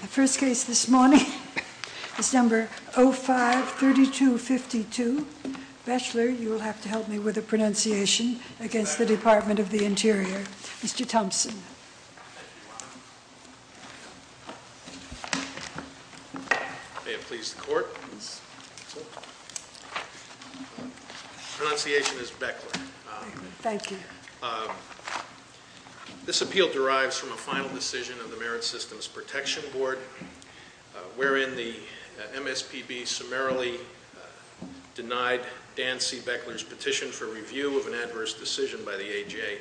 The first case this morning is number 05-3252. Bechler, you will have to help me with the pronunciation against the Department of the Interior. Mr. Thompson. May it please the Court. Pronunciation is Bechler. Thank you. This appeal derives from a final decision of the Merit Systems Protection Board, wherein the MSPB summarily denied Dan C. Bechler's petition for review of an adverse decision by the AJ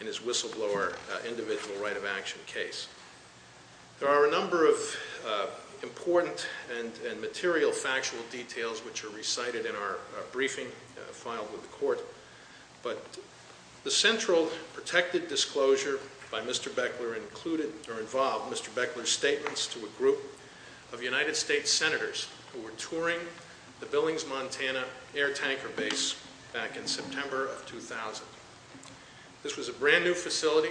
in his whistleblower individual right of action case. There are a number of important and material factual details which are recited in our briefing filed with the Court, but the central protected disclosure by Mr. Bechler involved Mr. Bechler's statements to a group of United States Senators who were touring the Billings, Montana, air tanker base back in September of 2000. This was a brand new facility.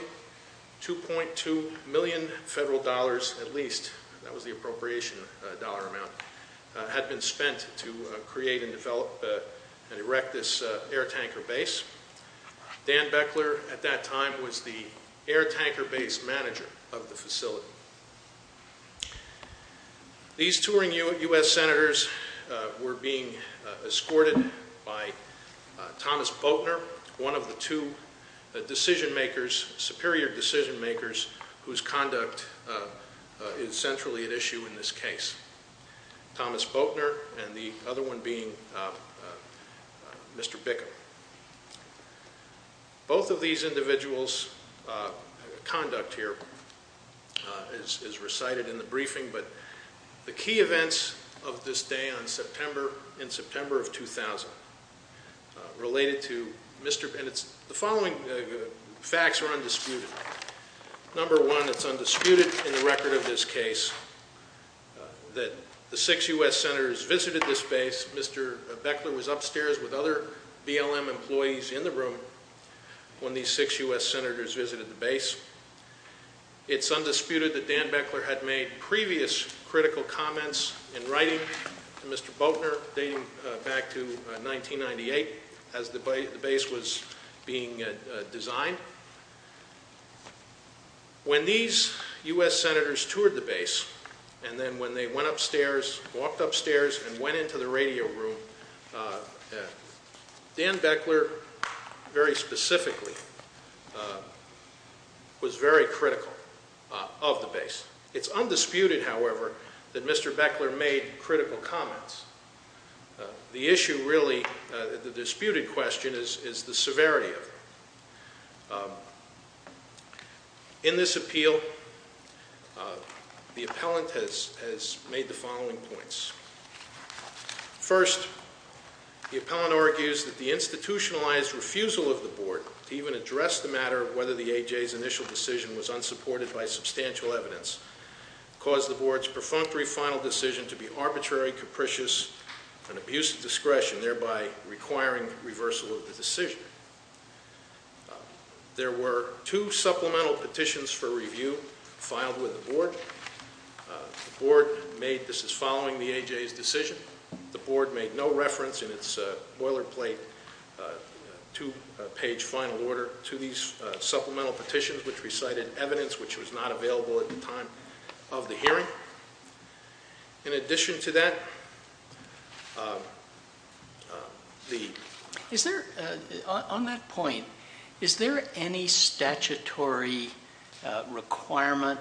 2.2 million federal dollars at least, that was the appropriation dollar amount, had been spent to create and develop and erect this air tanker base. Dan Bechler, at that time, was the air tanker base manager of the facility. These touring U.S. Senators were being escorted by Thomas Boettner, one of the two decision makers, superior decision makers, whose conduct is centrally at issue in this case. Thomas Boettner and the other one being Mr. Bickel. Both of these individuals' conduct here is recited in the briefing, but the key events of this day in September of 2000 related to Mr. Bechler. The following facts are undisputed. Number one, it's undisputed in the record of this case that the six U.S. Senators visited this base. Mr. Bechler was upstairs with other BLM employees in the room when these six U.S. Senators visited the base. It's undisputed that Dan Bechler had made previous critical comments in writing to Mr. Boettner, dating back to 1998, as the base was being designed. When these U.S. Senators toured the base, and then when they went upstairs, walked upstairs, and went into the radio room, Dan Bechler, very specifically, was very critical of the base. It's undisputed, however, that Mr. Bechler made critical comments. The issue really, the disputed question, is the severity of it. In this appeal, the appellant has made the following points. First, the appellant argues that the institutionalized refusal of the Board to even address the matter of whether the A.J.'s initial decision was unsupported by substantial evidence caused the Board's perfunctory final decision to be arbitrary, capricious, and abuse of discretion, thereby requiring reversal of the decision. There were two supplemental petitions for review filed with the Board. The Board made, this is following the A.J.'s decision, the Board made no reference in its boilerplate two-page final order to these supplemental petitions which recited evidence which was not available at the time of the hearing. In addition to that, the... Is there, on that point, is there any statutory requirement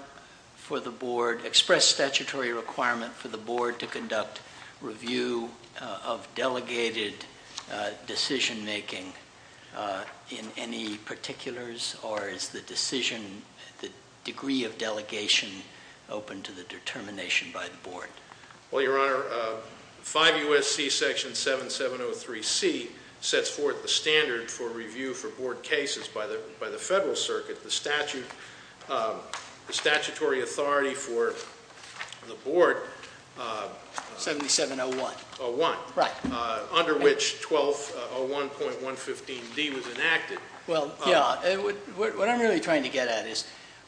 for the Board, express statutory requirement for the Board to conduct review of delegated decision-making in any particulars, or is the decision, the degree of delegation open to the determination by the Board? Well, Your Honor, 5 U.S.C. Section 7703C sets forth the standard for review for Board cases by the Federal Circuit. The statute, the statutory authority for the Board... 7701. 71. Right. Under which 1201.115D was enacted. Well, yeah, what I'm really trying to get at is,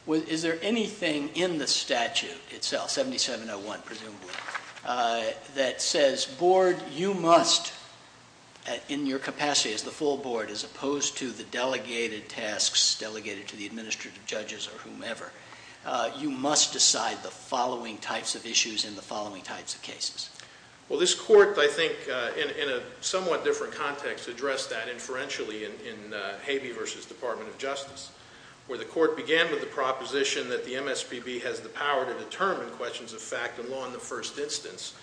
is there anything in the statute itself, 7701 presumably, that says, Board, you must, in your capacity as the full Board, as opposed to the delegated tasks delegated to the administrative judges or whomever, you must decide the following types of issues in the following types of cases. Well, this Court, I think, in a somewhat different context, addressed that inferentially in Habee v. Department of Justice, where the Court began with the proposition that the MSPB has the power to determine questions of fact and law in the first instance,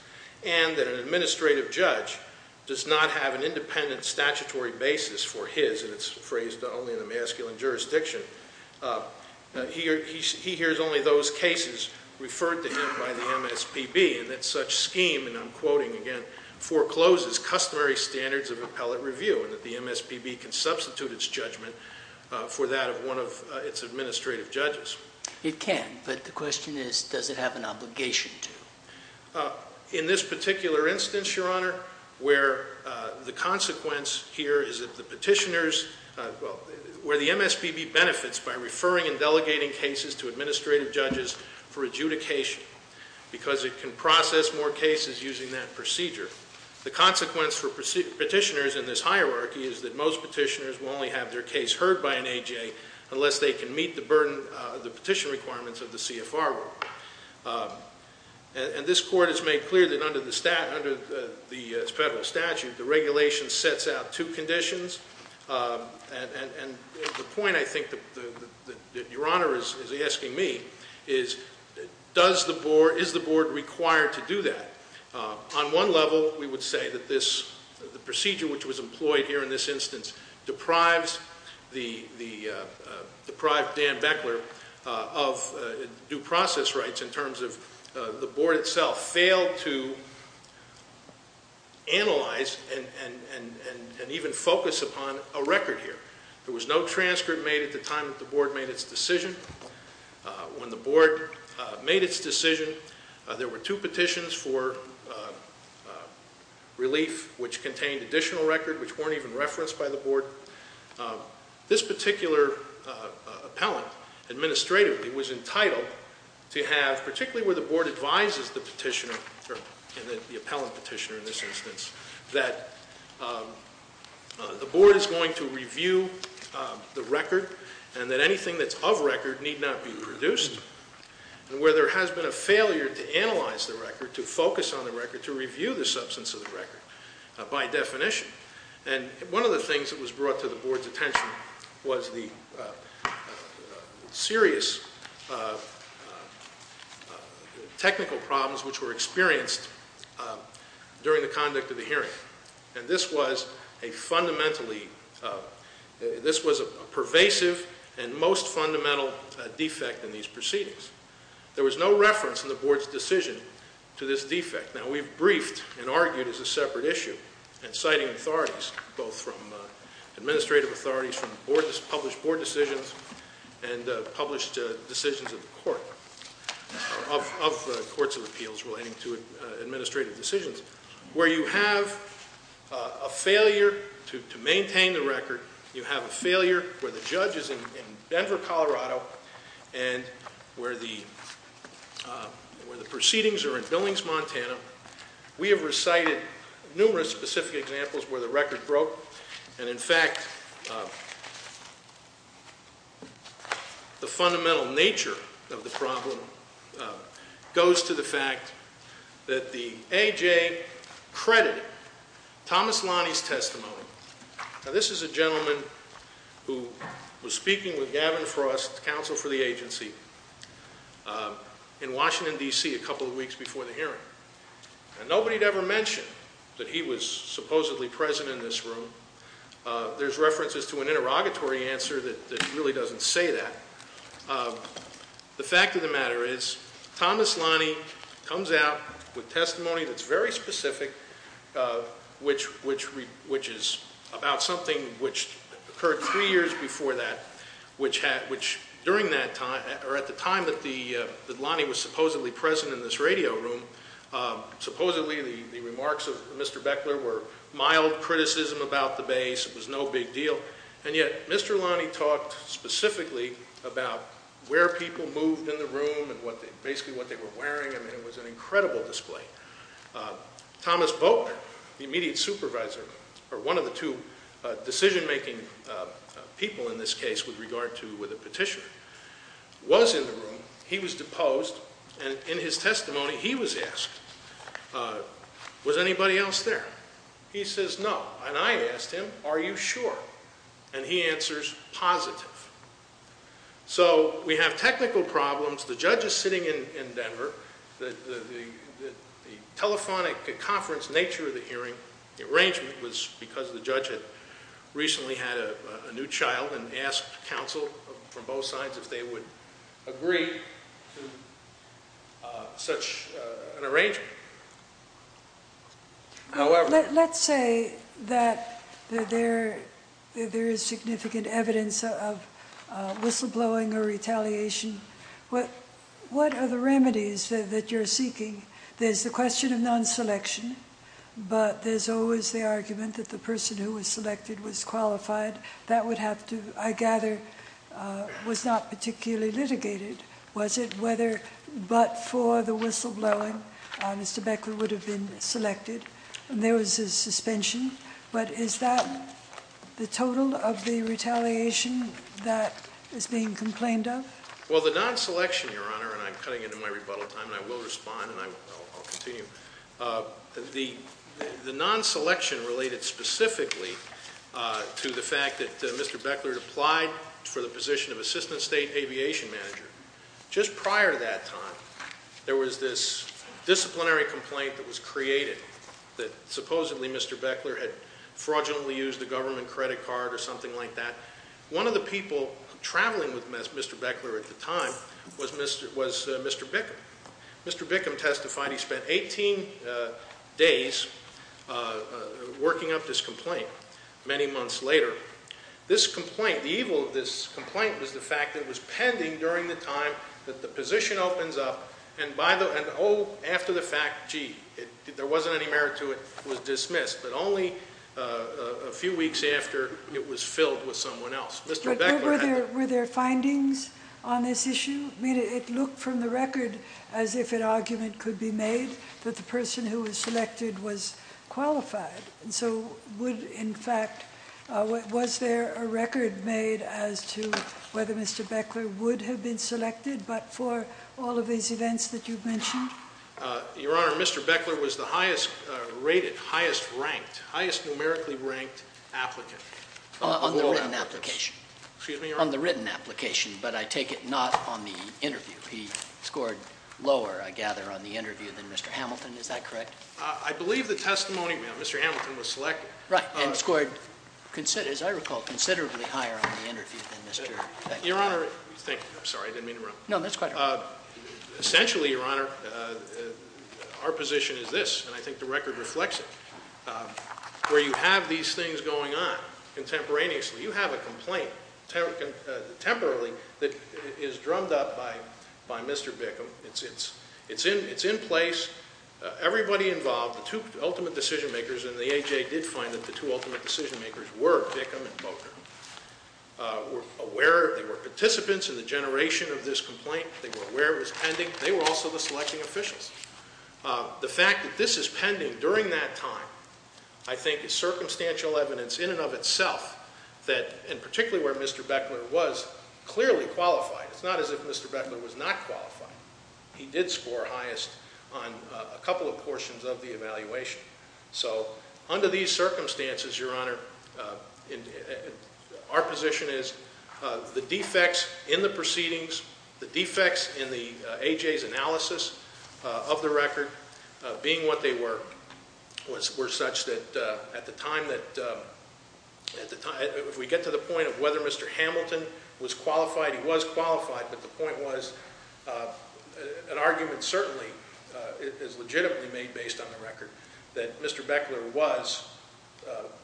and that an administrative judge does not have an independent statutory basis for his, and it's phrased only in the masculine jurisdiction, he hears only those cases referred to him by the MSPB, and that such scheme, and I'm quoting again, forecloses customary standards of appellate review, and that the MSPB can substitute its judgment for that of one of its administrative judges. It can, but the question is, does it have an obligation to? In this particular instance, Your Honor, where the consequence here is that the petitioners, well, where the MSPB benefits by referring and delegating cases to administrative judges for adjudication, because it can process more cases using that procedure, the consequence for petitioners in this hierarchy is that most petitioners will only have their case heard by an A.J. unless they can meet the petition requirements of the C.F.R. And this Court has made clear that under the federal statute, the regulation sets out two conditions, and the point, I think, that Your Honor is asking me is, is the Board required to do that? On one level, we would say that this procedure, which was employed here in this instance, deprives Dan Beckler of due process rights in terms of the Board itself failed to analyze and even focus upon a record here. There was no transcript made at the time that the Board made its decision. When the Board made its decision, there were two petitions for relief, which contained additional record which weren't even referenced by the Board. This particular appellant, administratively, was entitled to have, particularly where the Board advises the petitioner, the appellant petitioner in this instance, that the Board is going to review the record and that anything that's of record need not be produced. And where there has been a failure to analyze the record, to focus on the record, to review the substance of the record by definition. And one of the things that was brought to the Board's attention was the serious technical problems which were experienced during the conduct of the hearing. And this was a fundamentally, this was a pervasive and most fundamental defect in these proceedings. There was no reference in the Board's decision to this defect. Now, we've briefed and argued as a separate issue, and citing authorities, both from administrative authorities, from Board, published Board decisions, and published decisions of the Court, of the Courts of Appeals relating to administrative decisions, where you have a failure to maintain the record, you have a failure where the judge is in Denver, Colorado, and where the proceedings are in Billings, Montana. We have recited numerous specific examples where the record broke. And, in fact, the fundamental nature of the problem goes to the fact that the A.J. credited Thomas Lonnie's testimony. Now, this is a gentleman who was speaking with Gavin Frost, counsel for the agency, in Washington, D.C., a couple of weeks before the hearing. And nobody had ever mentioned that he was supposedly present in this room. There's references to an interrogatory answer that really doesn't say that. The fact of the matter is Thomas Lonnie comes out with testimony that's very specific, which is about something which occurred three years before that, which during that time, or at the time that Lonnie was supposedly present in this radio room, supposedly the remarks of Mr. Beckler were mild criticism about the base. It was no big deal. And yet Mr. Lonnie talked specifically about where people moved in the room and basically what they were wearing. I mean, it was an incredible display. Thomas Volkner, the immediate supervisor, or one of the two decision-making people in this case with regard to the petitioner, was in the room. He was deposed. And in his testimony, he was asked, was anybody else there? He says, no. And I asked him, are you sure? And he answers, positive. So we have technical problems. The judge is sitting in Denver. The telephonic conference nature of the hearing, the arrangement, was because the judge had recently had a new child and asked counsel from both sides if they would agree to such an arrangement. Let's say that there is significant evidence of whistleblowing or retaliation. What are the remedies that you're seeking? There's the question of non-selection, but there's always the argument that the person who was selected was qualified. That would have to, I gather, was not particularly litigated, was it? Whether but for the whistleblowing, Mr. Beckler would have been selected. And there was a suspension. But is that the total of the retaliation that is being complained of? Well, the non-selection, Your Honor, and I'm cutting into my rebuttal time, and I will respond, and I'll continue. The non-selection related specifically to the fact that Mr. Beckler had applied for the position of assistant state aviation manager. Just prior to that time, there was this disciplinary complaint that was created that supposedly Mr. Beckler had fraudulently used a government credit card or something like that. One of the people traveling with Mr. Beckler at the time was Mr. Bickham. Mr. Bickham testified. He spent 18 days working up this complaint. Many months later, this complaint, the evil of this complaint was the fact that it was pending during the time that the position opens up. And, oh, after the fact, gee, there wasn't any merit to it. It was dismissed. But only a few weeks after, it was filled with someone else. Mr. Beckler had- Were there findings on this issue? I mean, it looked from the record as if an argument could be made that the person who was selected was qualified. And so would, in fact, was there a record made as to whether Mr. Beckler would have been selected but for all of these events that you've mentioned? Your Honor, Mr. Beckler was the highest rated, highest ranked, highest numerically ranked applicant. On the written application. Excuse me, Your Honor? On the written application, but I take it not on the interview. He scored lower, I gather, on the interview than Mr. Hamilton. Is that correct? I believe the testimony, ma'am, Mr. Hamilton was selected. Right, and scored, as I recall, considerably higher on the interview than Mr. Beckler. Your Honor, thank you. I'm sorry, I didn't mean to interrupt. No, that's quite all right. Essentially, Your Honor, our position is this, and I think the record reflects it. Where you have these things going on contemporaneously, you have a complaint, temporarily, that is drummed up by Mr. Bickham. It's in place. Everybody involved, the two ultimate decision makers in the A.J. did find that the two ultimate decision makers were Bickham and Bogner. They were participants in the generation of this complaint. They were aware it was pending. They were also the selecting officials. The fact that this is pending during that time, I think, is circumstantial evidence in and of itself that, and particularly where Mr. Beckler was, clearly qualified. It's not as if Mr. Beckler was not qualified. He did score highest on a couple of portions of the evaluation. So under these circumstances, Your Honor, our position is the defects in the proceedings, the defects in the A.J.'s analysis of the record, being what they were, were such that at the time that, if we get to the point of whether Mr. Hamilton was qualified, he was qualified, but the point was an argument certainly is legitimately made based on the record that Mr. Beckler was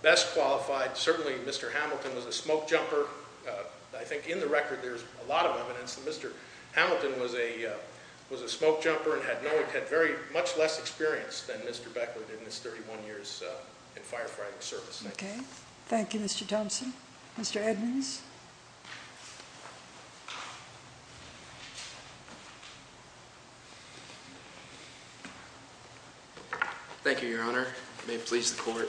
best qualified. Certainly Mr. Hamilton was a smokejumper. I think in the record there's a lot of evidence that Mr. Hamilton was a smokejumper and had very much less experience than Mr. Beckler did in his 31 years in firefighting service. Okay. Thank you, Mr. Thompson. Mr. Edmonds? Thank you, Your Honor. It may please the Court.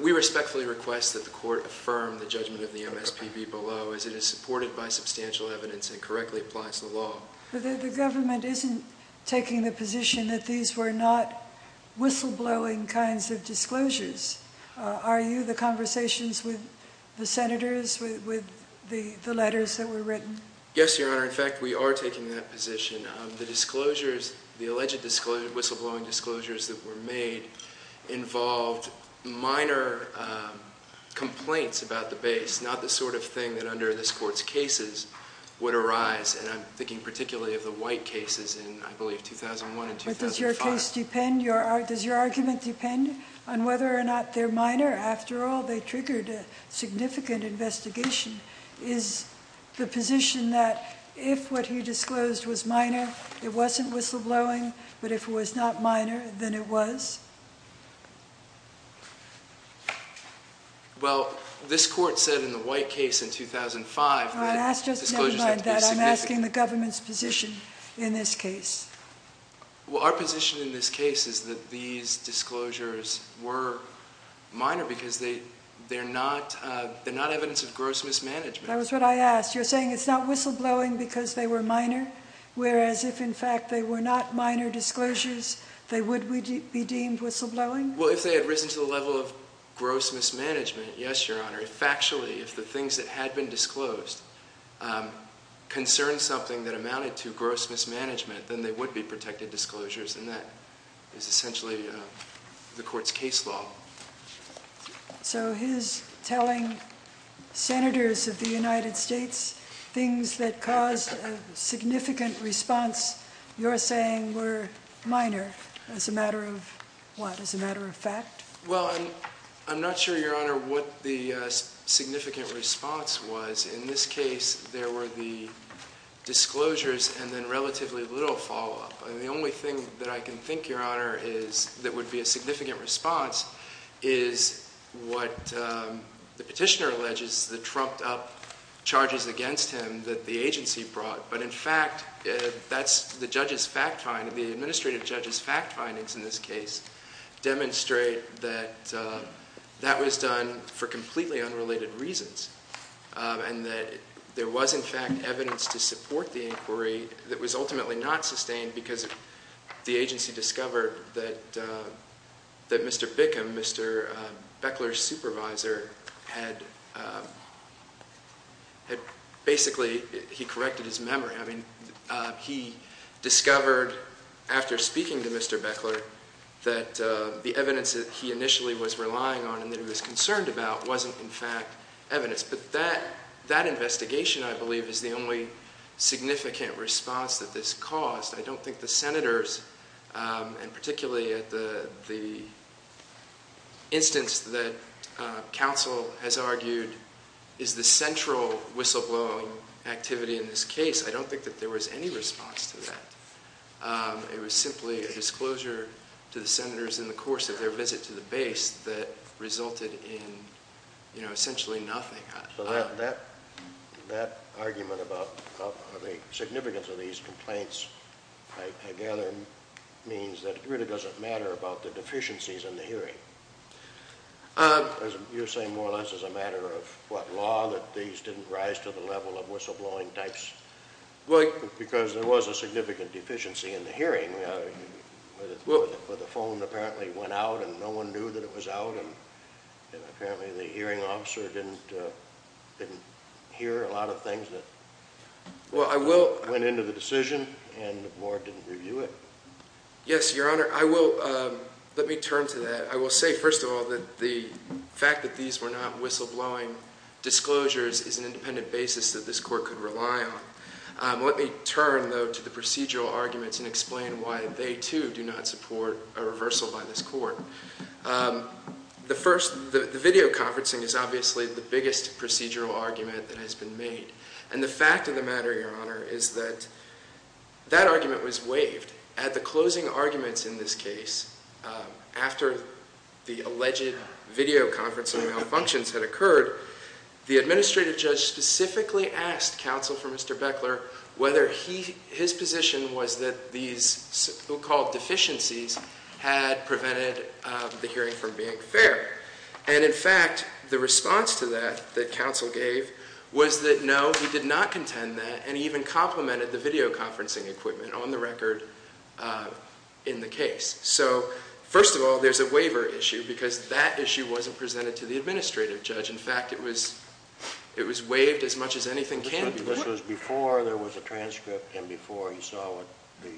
We respectfully request that the Court affirm the judgment of the MSPB below as it is supported by substantial evidence and correctly applies to the law. The government isn't taking the position that these were not whistleblowing kinds of disclosures. Are you? The conversations with the Senators, with the letters that were written? Yes, Your Honor. In fact, we are taking that position. The disclosures, the alleged whistleblowing disclosures that were made involved minor complaints about the base, not the sort of thing that under this Court's cases would arise. And I'm thinking particularly of the White cases in, I believe, 2001 and 2005. But does your case depend, does your argument depend on whether or not they're minor? After all, they triggered a significant investigation. Is the position that if what he disclosed was minor, it wasn't whistleblowing, but if it was not minor, then it was? Well, this Court said in the White case in 2005 that disclosures had to be significant. I'm asking the government's position in this case. Well, our position in this case is that these disclosures were minor because they're not evidence of gross mismanagement. That was what I asked. You're saying it's not whistleblowing because they were minor, whereas if, in fact, they were not minor disclosures, they would be deemed whistleblowing? Well, if they had risen to the level of gross mismanagement, yes, Your Honor. Factually, if the things that had been disclosed concerned something that amounted to gross mismanagement, then they would be protected disclosures, and that is essentially the Court's case law. So he's telling senators of the United States things that caused a significant response. You're saying were minor as a matter of what, as a matter of fact? Well, I'm not sure, Your Honor, what the significant response was. In this case, there were the disclosures and then relatively little follow-up. And the only thing that I can think, Your Honor, that would be a significant response is what the petitioner alleges, the trumped-up charges against him that the agency brought. But, in fact, the administrative judge's fact findings in this case demonstrate that that was done for completely unrelated reasons and that there was, in fact, evidence to support the inquiry that was ultimately not sustained because the agency discovered that Mr. Bickham, Mr. Beckler's supervisor, had basically corrected his memory. I mean, he discovered after speaking to Mr. Beckler that the evidence that he initially was relying on and that he was concerned about wasn't, in fact, evidence. But that investigation, I believe, is the only significant response that this caused. I don't think the senators, and particularly at the instance that counsel has argued is the central whistleblowing activity in this case, I don't think that there was any response to that. It was simply a disclosure to the senators in the course of their visit to the base that resulted in, you know, essentially nothing. So that argument about the significance of these complaints, I gather, means that it really doesn't matter about the deficiencies in the hearing. You're saying more or less as a matter of what, law, that these didn't rise to the level of whistleblowing types? Because there was a significant deficiency in the hearing where the phone apparently went out and no one knew that it was out and apparently the hearing officer didn't hear a lot of things that went into the decision and the board didn't review it. Yes, Your Honor. I will. Let me turn to that. I will say, first of all, that the fact that these were not whistleblowing disclosures is an independent basis that this court could rely on. Let me turn, though, to the procedural arguments and explain why they, too, do not support a reversal by this court. The first, the video conferencing is obviously the biggest procedural argument that has been made. And the fact of the matter, Your Honor, is that that argument was waived. At the closing arguments in this case, after the alleged video conferencing malfunctions had occurred, the administrative judge specifically asked counsel for Mr. Beckler whether his position was that these so-called deficiencies had prevented the hearing from being fair. And, in fact, the response to that that counsel gave was that no, he did not contend that, and he even complimented the video conferencing equipment on the record in the case. So, first of all, there's a waiver issue because that issue wasn't presented to the administrative judge. In fact, it was waived as much as anything can be. This was before there was a transcript and before he saw what the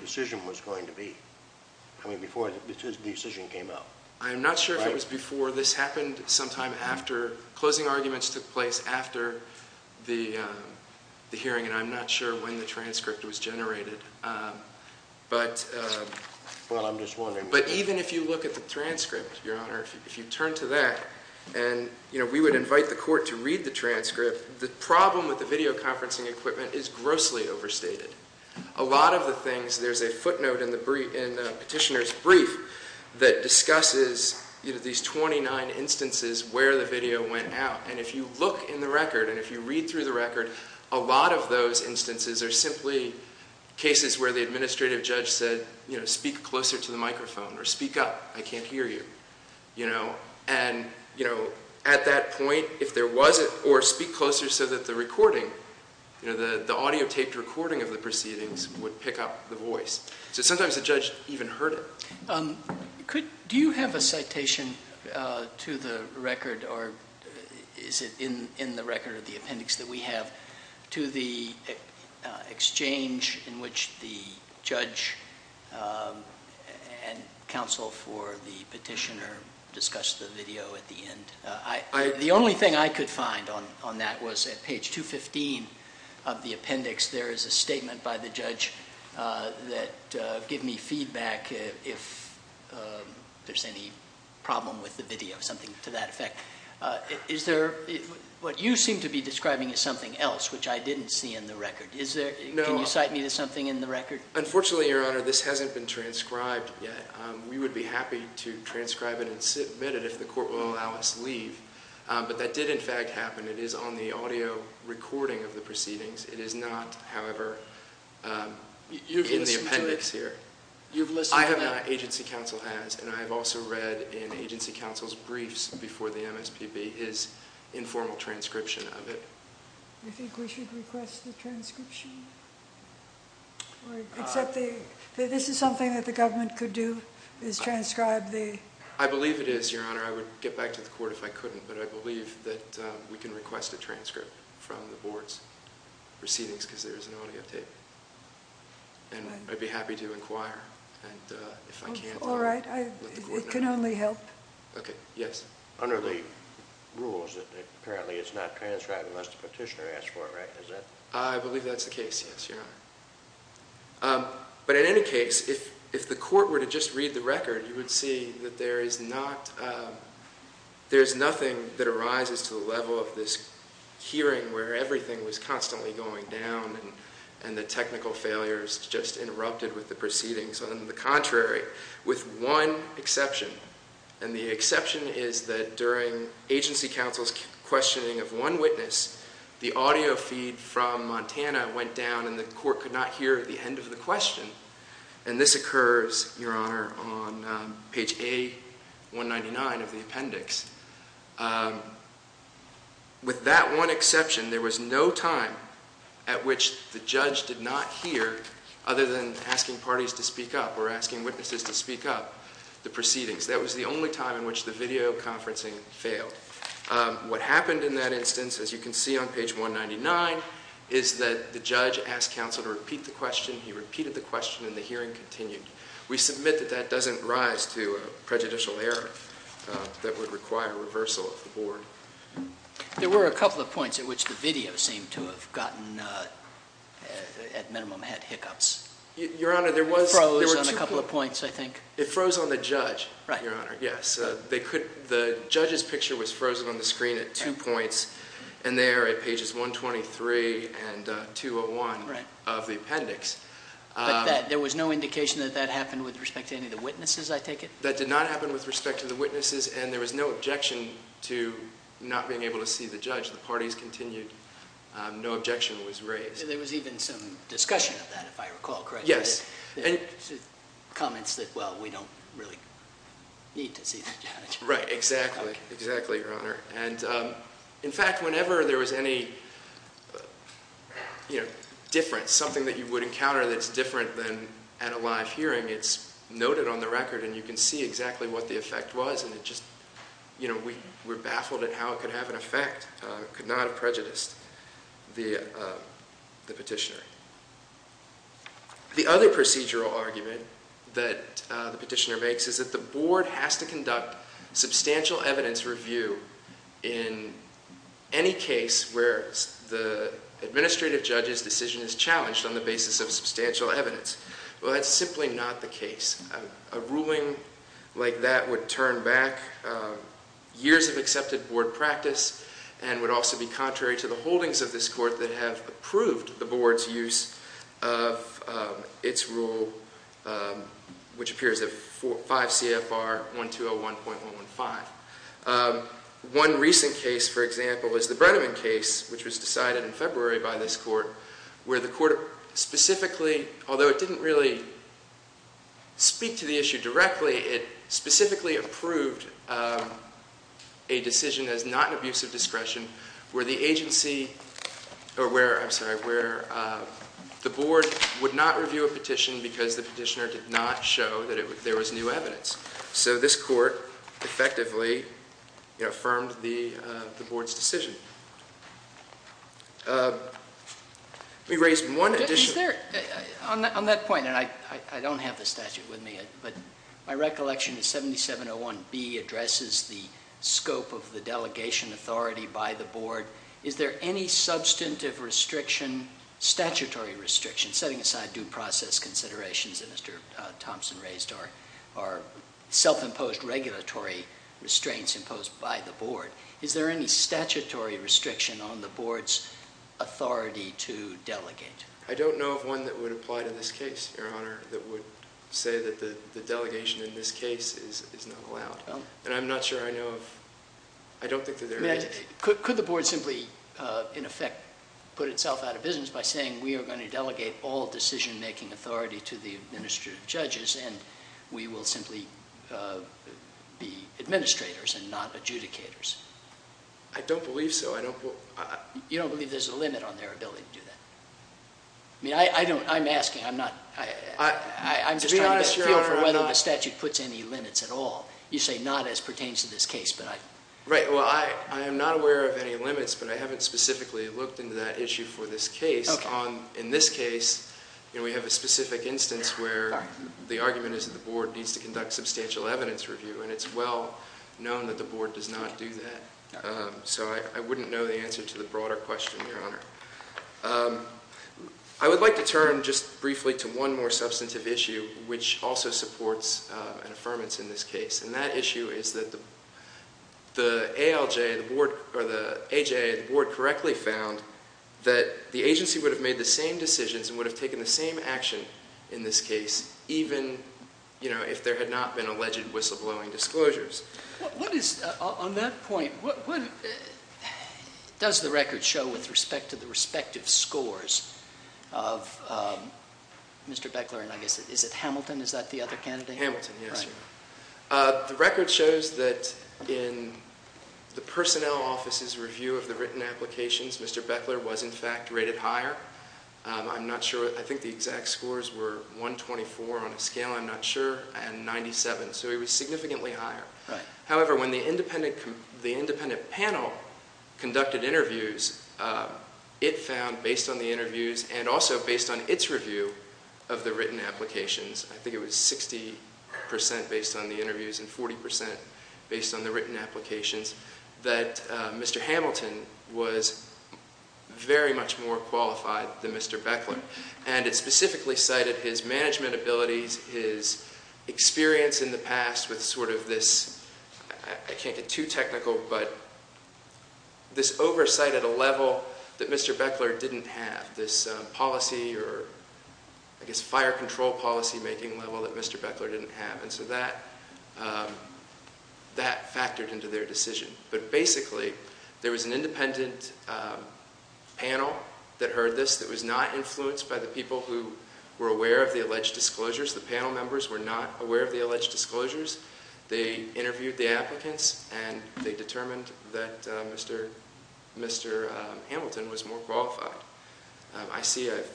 decision was going to be. I mean, before the decision came out. I'm not sure if it was before. This happened sometime after. Closing arguments took place after the hearing, and I'm not sure when the transcript was generated. But even if you look at the transcript, Your Honor, if you turn to that and, you know, we would invite the court to read the transcript, the problem with the video conferencing equipment is grossly overstated. A lot of the things, there's a footnote in the petitioner's brief that discusses, you know, these 29 instances where the video went out. And if you look in the record and if you read through the record, a lot of those instances are simply cases where the administrative judge said, you know, speak closer to the microphone or speak up, I can't hear you. And, you know, at that point, if there wasn't or speak closer so that the recording, you know, the audio taped recording of the proceedings would pick up the voice. So sometimes the judge even heard it. Do you have a citation to the record or is it in the record or the appendix that we have to the exchange in which the judge and counsel for the petitioner discussed the video at the end? The only thing I could find on that was at page 215 of the appendix, there is a statement by the judge that give me feedback if there's any problem with the video, something to that effect. Is there what you seem to be describing as something else which I didn't see in the record? Can you cite me to something in the record? Unfortunately, Your Honor, this hasn't been transcribed yet. We would be happy to transcribe it and submit it if the court will allow us to leave. But that did, in fact, happen. It is on the audio recording of the proceedings. It is not, however, in the appendix here. You've listened to it? I have not. Agency counsel has. And I have also read in agency counsel's briefs before the MSPB his informal transcription of it. Do you think we should request the transcription? Except that this is something that the government could do, is transcribe the… I believe it is, Your Honor. I would get back to the court if I couldn't, but I believe that we can request a transcript from the board's proceedings because there is an audio tape. And I'd be happy to inquire. And if I can't, I'll let the court know. All right. It can only help. Okay. Yes. Under the rules, apparently it's not transcribed unless the petitioner asks for it, right? I believe that's the case, yes, Your Honor. But in any case, if the court were to just read the record, you would see that there is nothing that arises to the level of this hearing where everything was constantly going down and the technical failures just interrupted with the proceedings. On the contrary, with one exception, and the exception is that during agency counsel's questioning of one witness, the audio feed from Montana went down and the court could not hear the end of the question. And this occurs, Your Honor, on page A199 of the appendix. With that one exception, there was no time at which the judge did not hear, other than asking parties to speak up or asking witnesses to speak up, the proceedings. That was the only time in which the videoconferencing failed. What happened in that instance, as you can see on page 199, is that the judge asked counsel to repeat the question. He repeated the question and the hearing continued. We submit that that doesn't rise to prejudicial error that would require reversal of the board. There were a couple of points at which the video seemed to have gotten, at minimum, had hiccups. Your Honor, there were two points. It froze on a couple of points, I think. It froze on the judge, Your Honor, yes. The judge's picture was frozen on the screen at two points, and there at pages 123 and 201 of the appendix. But there was no indication that that happened with respect to any of the witnesses, I take it? That did not happen with respect to the witnesses, and there was no objection to not being able to see the judge. The parties continued. No objection was raised. There was even some discussion of that, if I recall correctly. Yes. Comments that, well, we don't really need to see the judge. Right. Exactly. Exactly, Your Honor. And, in fact, whenever there was any, you know, difference, something that you would encounter that's different than at a live hearing, it's noted on the record and you can see exactly what the effect was, and it just, you know, we're baffled at how it could have an effect, could not have prejudiced the petitioner. The other procedural argument that the petitioner makes is that the board has to conduct substantial evidence review in any case where the administrative judge's decision is challenged on the basis of substantial evidence. Well, that's simply not the case. A ruling like that would turn back years of accepted board practice and would also be contrary to the holdings of this court that have approved the board's use of its rule, which appears at 5 CFR 1201.115. One recent case, for example, is the Brenneman case, which was decided in February by this court, where the court specifically, although it didn't really speak to the issue directly, it specifically approved a decision as not an abuse of discretion where the agency, or where, I'm sorry, where the board would not review a petition because the petitioner did not show that there was new evidence. So this court effectively affirmed the board's decision. Let me raise one additional. Is there, on that point, and I don't have the statute with me, but my recollection is 7701B addresses the scope of the delegation authority by the board. Is there any substantive restriction, statutory restriction, setting aside due process considerations that Mr. Thompson raised, or self-imposed regulatory restraints imposed by the board? Is there any statutory restriction on the board's authority to delegate? I don't know of one that would apply to this case, Your Honor, that would say that the delegation in this case is not allowed. And I'm not sure I know of, I don't think that there is. Could the board simply, in effect, put itself out of business by saying, we are going to delegate all decision-making authority to the administrative judges and we will simply be administrators and not adjudicators? I don't believe so. You don't believe there's a limit on their ability to do that? I mean, I don't, I'm asking, I'm not, I'm just trying to get a feel for whether the statute puts any limits at all. You say not as pertains to this case. Right, well, I am not aware of any limits, but I haven't specifically looked into that issue for this case. In this case, we have a specific instance where the argument is that the board needs to conduct substantial evidence review, and it's well known that the board does not do that. So I wouldn't know the answer to the broader question, Your Honor. I would like to turn just briefly to one more substantive issue, which also supports an affirmance in this case. And that issue is that the ALJ, the board, or the AJA, the board correctly found that the agency would have made the same decisions and would have taken the same action in this case even, you know, if there had not been alleged whistleblowing disclosures. What is, on that point, what, does the record show with respect to the respective scores of Mr. Beckler and I guess, is it Hamilton? Is that the other candidate? Hamilton, yes. The record shows that in the personnel office's review of the written applications, Mr. Beckler was, in fact, rated higher. I'm not sure. I think the exact scores were 124 on a scale, I'm not sure, and 97. So he was significantly higher. However, when the independent panel conducted interviews, it found, based on the interviews and also based on its review of the written applications, I think it was 60% based on the interviews and 40% based on the written applications, that Mr. Hamilton was very much more qualified than Mr. Beckler. And it specifically cited his management abilities, his experience in the past with sort of this, I can't get too technical, but this oversight at a level that Mr. Beckler didn't have, this policy or, I guess, fire control policy-making level that Mr. Beckler didn't have. And so that factored into their decision. But basically, there was an independent panel that heard this that was not influenced by the people who were aware of the alleged disclosures. The panel members were not aware of the alleged disclosures. They interviewed the applicants, and they determined that Mr. Hamilton was more qualified. I see I've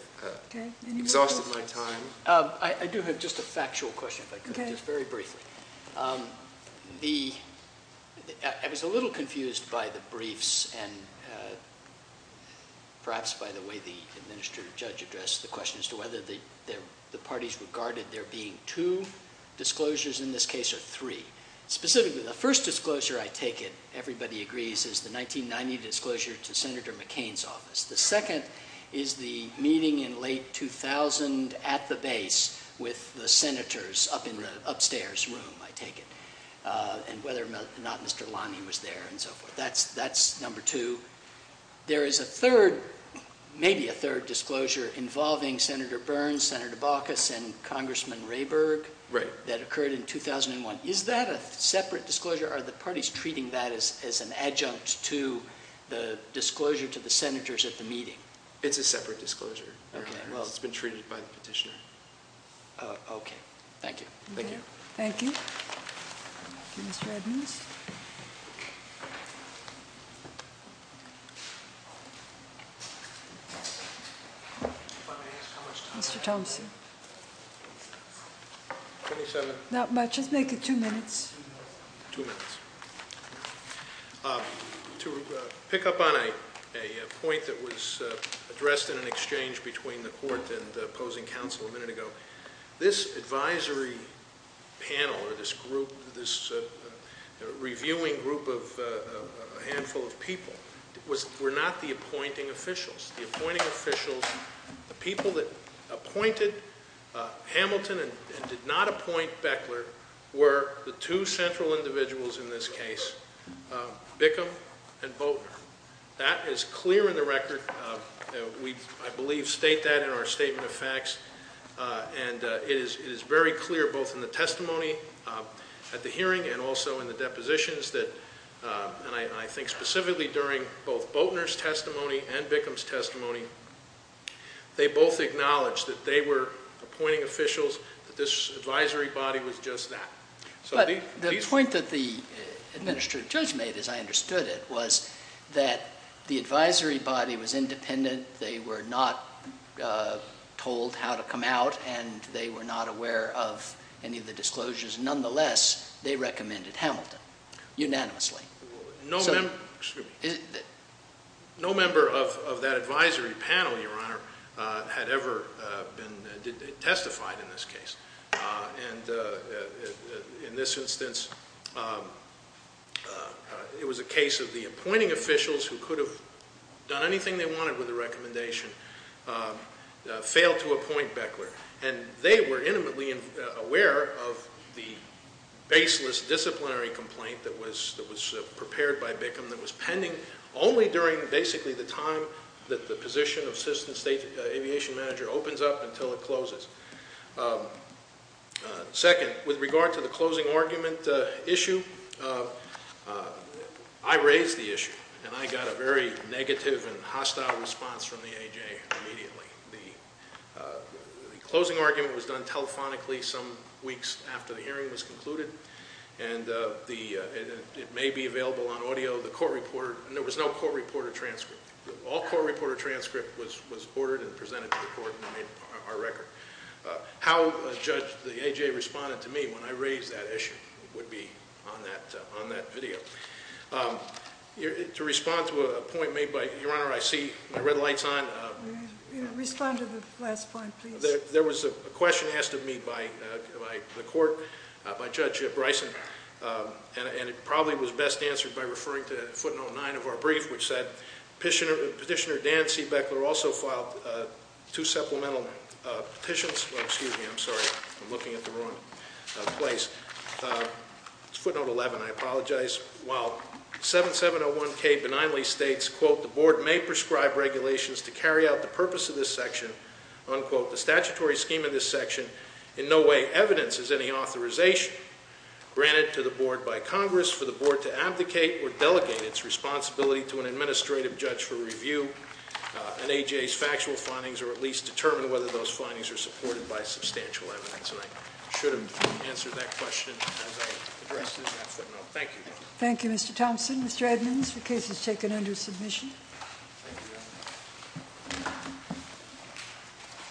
exhausted my time. I do have just a factual question, if I could, just very briefly. I was a little confused by the briefs and perhaps by the way the administrative judge addressed the question as to whether the parties regarded there being two disclosures. In this case, there are three. Specifically, the first disclosure, I take it everybody agrees, is the 1990 disclosure to Senator McCain's office. The second is the meeting in late 2000 at the base with the senators up in the upstairs room, I take it, and whether or not Mr. Lonnie was there and so forth. That's number two. There is a third, maybe a third disclosure involving Senator Burns, Senator Baucus, and Congressman Rayburg that occurred in 2001. Is that a separate disclosure? Are the parties treating that as an adjunct to the disclosure to the senators at the meeting? It's a separate disclosure. Okay. Well, it's been treated by the petitioner. Okay. Thank you. Thank you. Thank you. Thank you, Mr. Edmonds. Mr. Thompson. Not much. Just make it two minutes. Two minutes. To pick up on a point that was addressed in an exchange between the court and the opposing counsel a minute ago, this advisory panel or this group, this reviewing group of a handful of people were not the appointing officials. The appointing officials, the people that appointed Hamilton and did not appoint Beckler, were the two central individuals in this case, Bickham and Boatner. That is clear in the record. We, I believe, state that in our statement of facts. And it is very clear both in the testimony at the hearing and also in the depositions that, and I think specifically during both Boatner's testimony and Bickham's testimony, they both acknowledged that they were appointing officials, that this advisory body was just that. But the point that the administrative judge made, as I understood it, was that the advisory body was independent. They were not told how to come out, and they were not aware of any of the disclosures. Nonetheless, they recommended Hamilton unanimously. No member of that advisory panel, Your Honor, had ever been testified in this case. And in this instance, it was a case of the appointing officials who could have done anything they wanted with the recommendation, failed to appoint Beckler. And they were intimately aware of the baseless disciplinary complaint that was prepared by Bickham that was pending only during basically the time that the position of assistant state aviation manager opens up until it closes. Second, with regard to the closing argument issue, I raised the issue, and I got a very negative and hostile response from the A.J. immediately. The closing argument was done telephonically some weeks after the hearing was concluded, and it may be available on audio. The court reporter, and there was no court reporter transcript. All court reporter transcript was ordered and presented to the court and made our record. How a judge, the A.J., responded to me when I raised that issue would be on that video. To respond to a point made by, Your Honor, I see my red lights on. Respond to the last point, please. There was a question asked of me by the court, by Judge Bryson, and it probably was best answered by referring to footnote 9 of our brief, which said Petitioner Dan C. Beckler also filed two supplemental petitions. Excuse me. I'm sorry. I'm looking at the wrong place. It's footnote 11. I apologize. While 7701K benignly states, quote, the board may prescribe regulations to carry out the purpose of this section, unquote, the statutory scheme of this section in no way evidences any authorization granted to the board by Congress for the board to abdicate or delegate its responsibility to an administrative judge for review an A.J.'s factual findings or at least determine whether those findings are supported by substantial evidence. And I should have answered that question as I addressed it in that footnote. Thank you. Thank you, Mr. Thompson. Mr. Edmonds, the case is taken under submission. Thank you, Your Honor.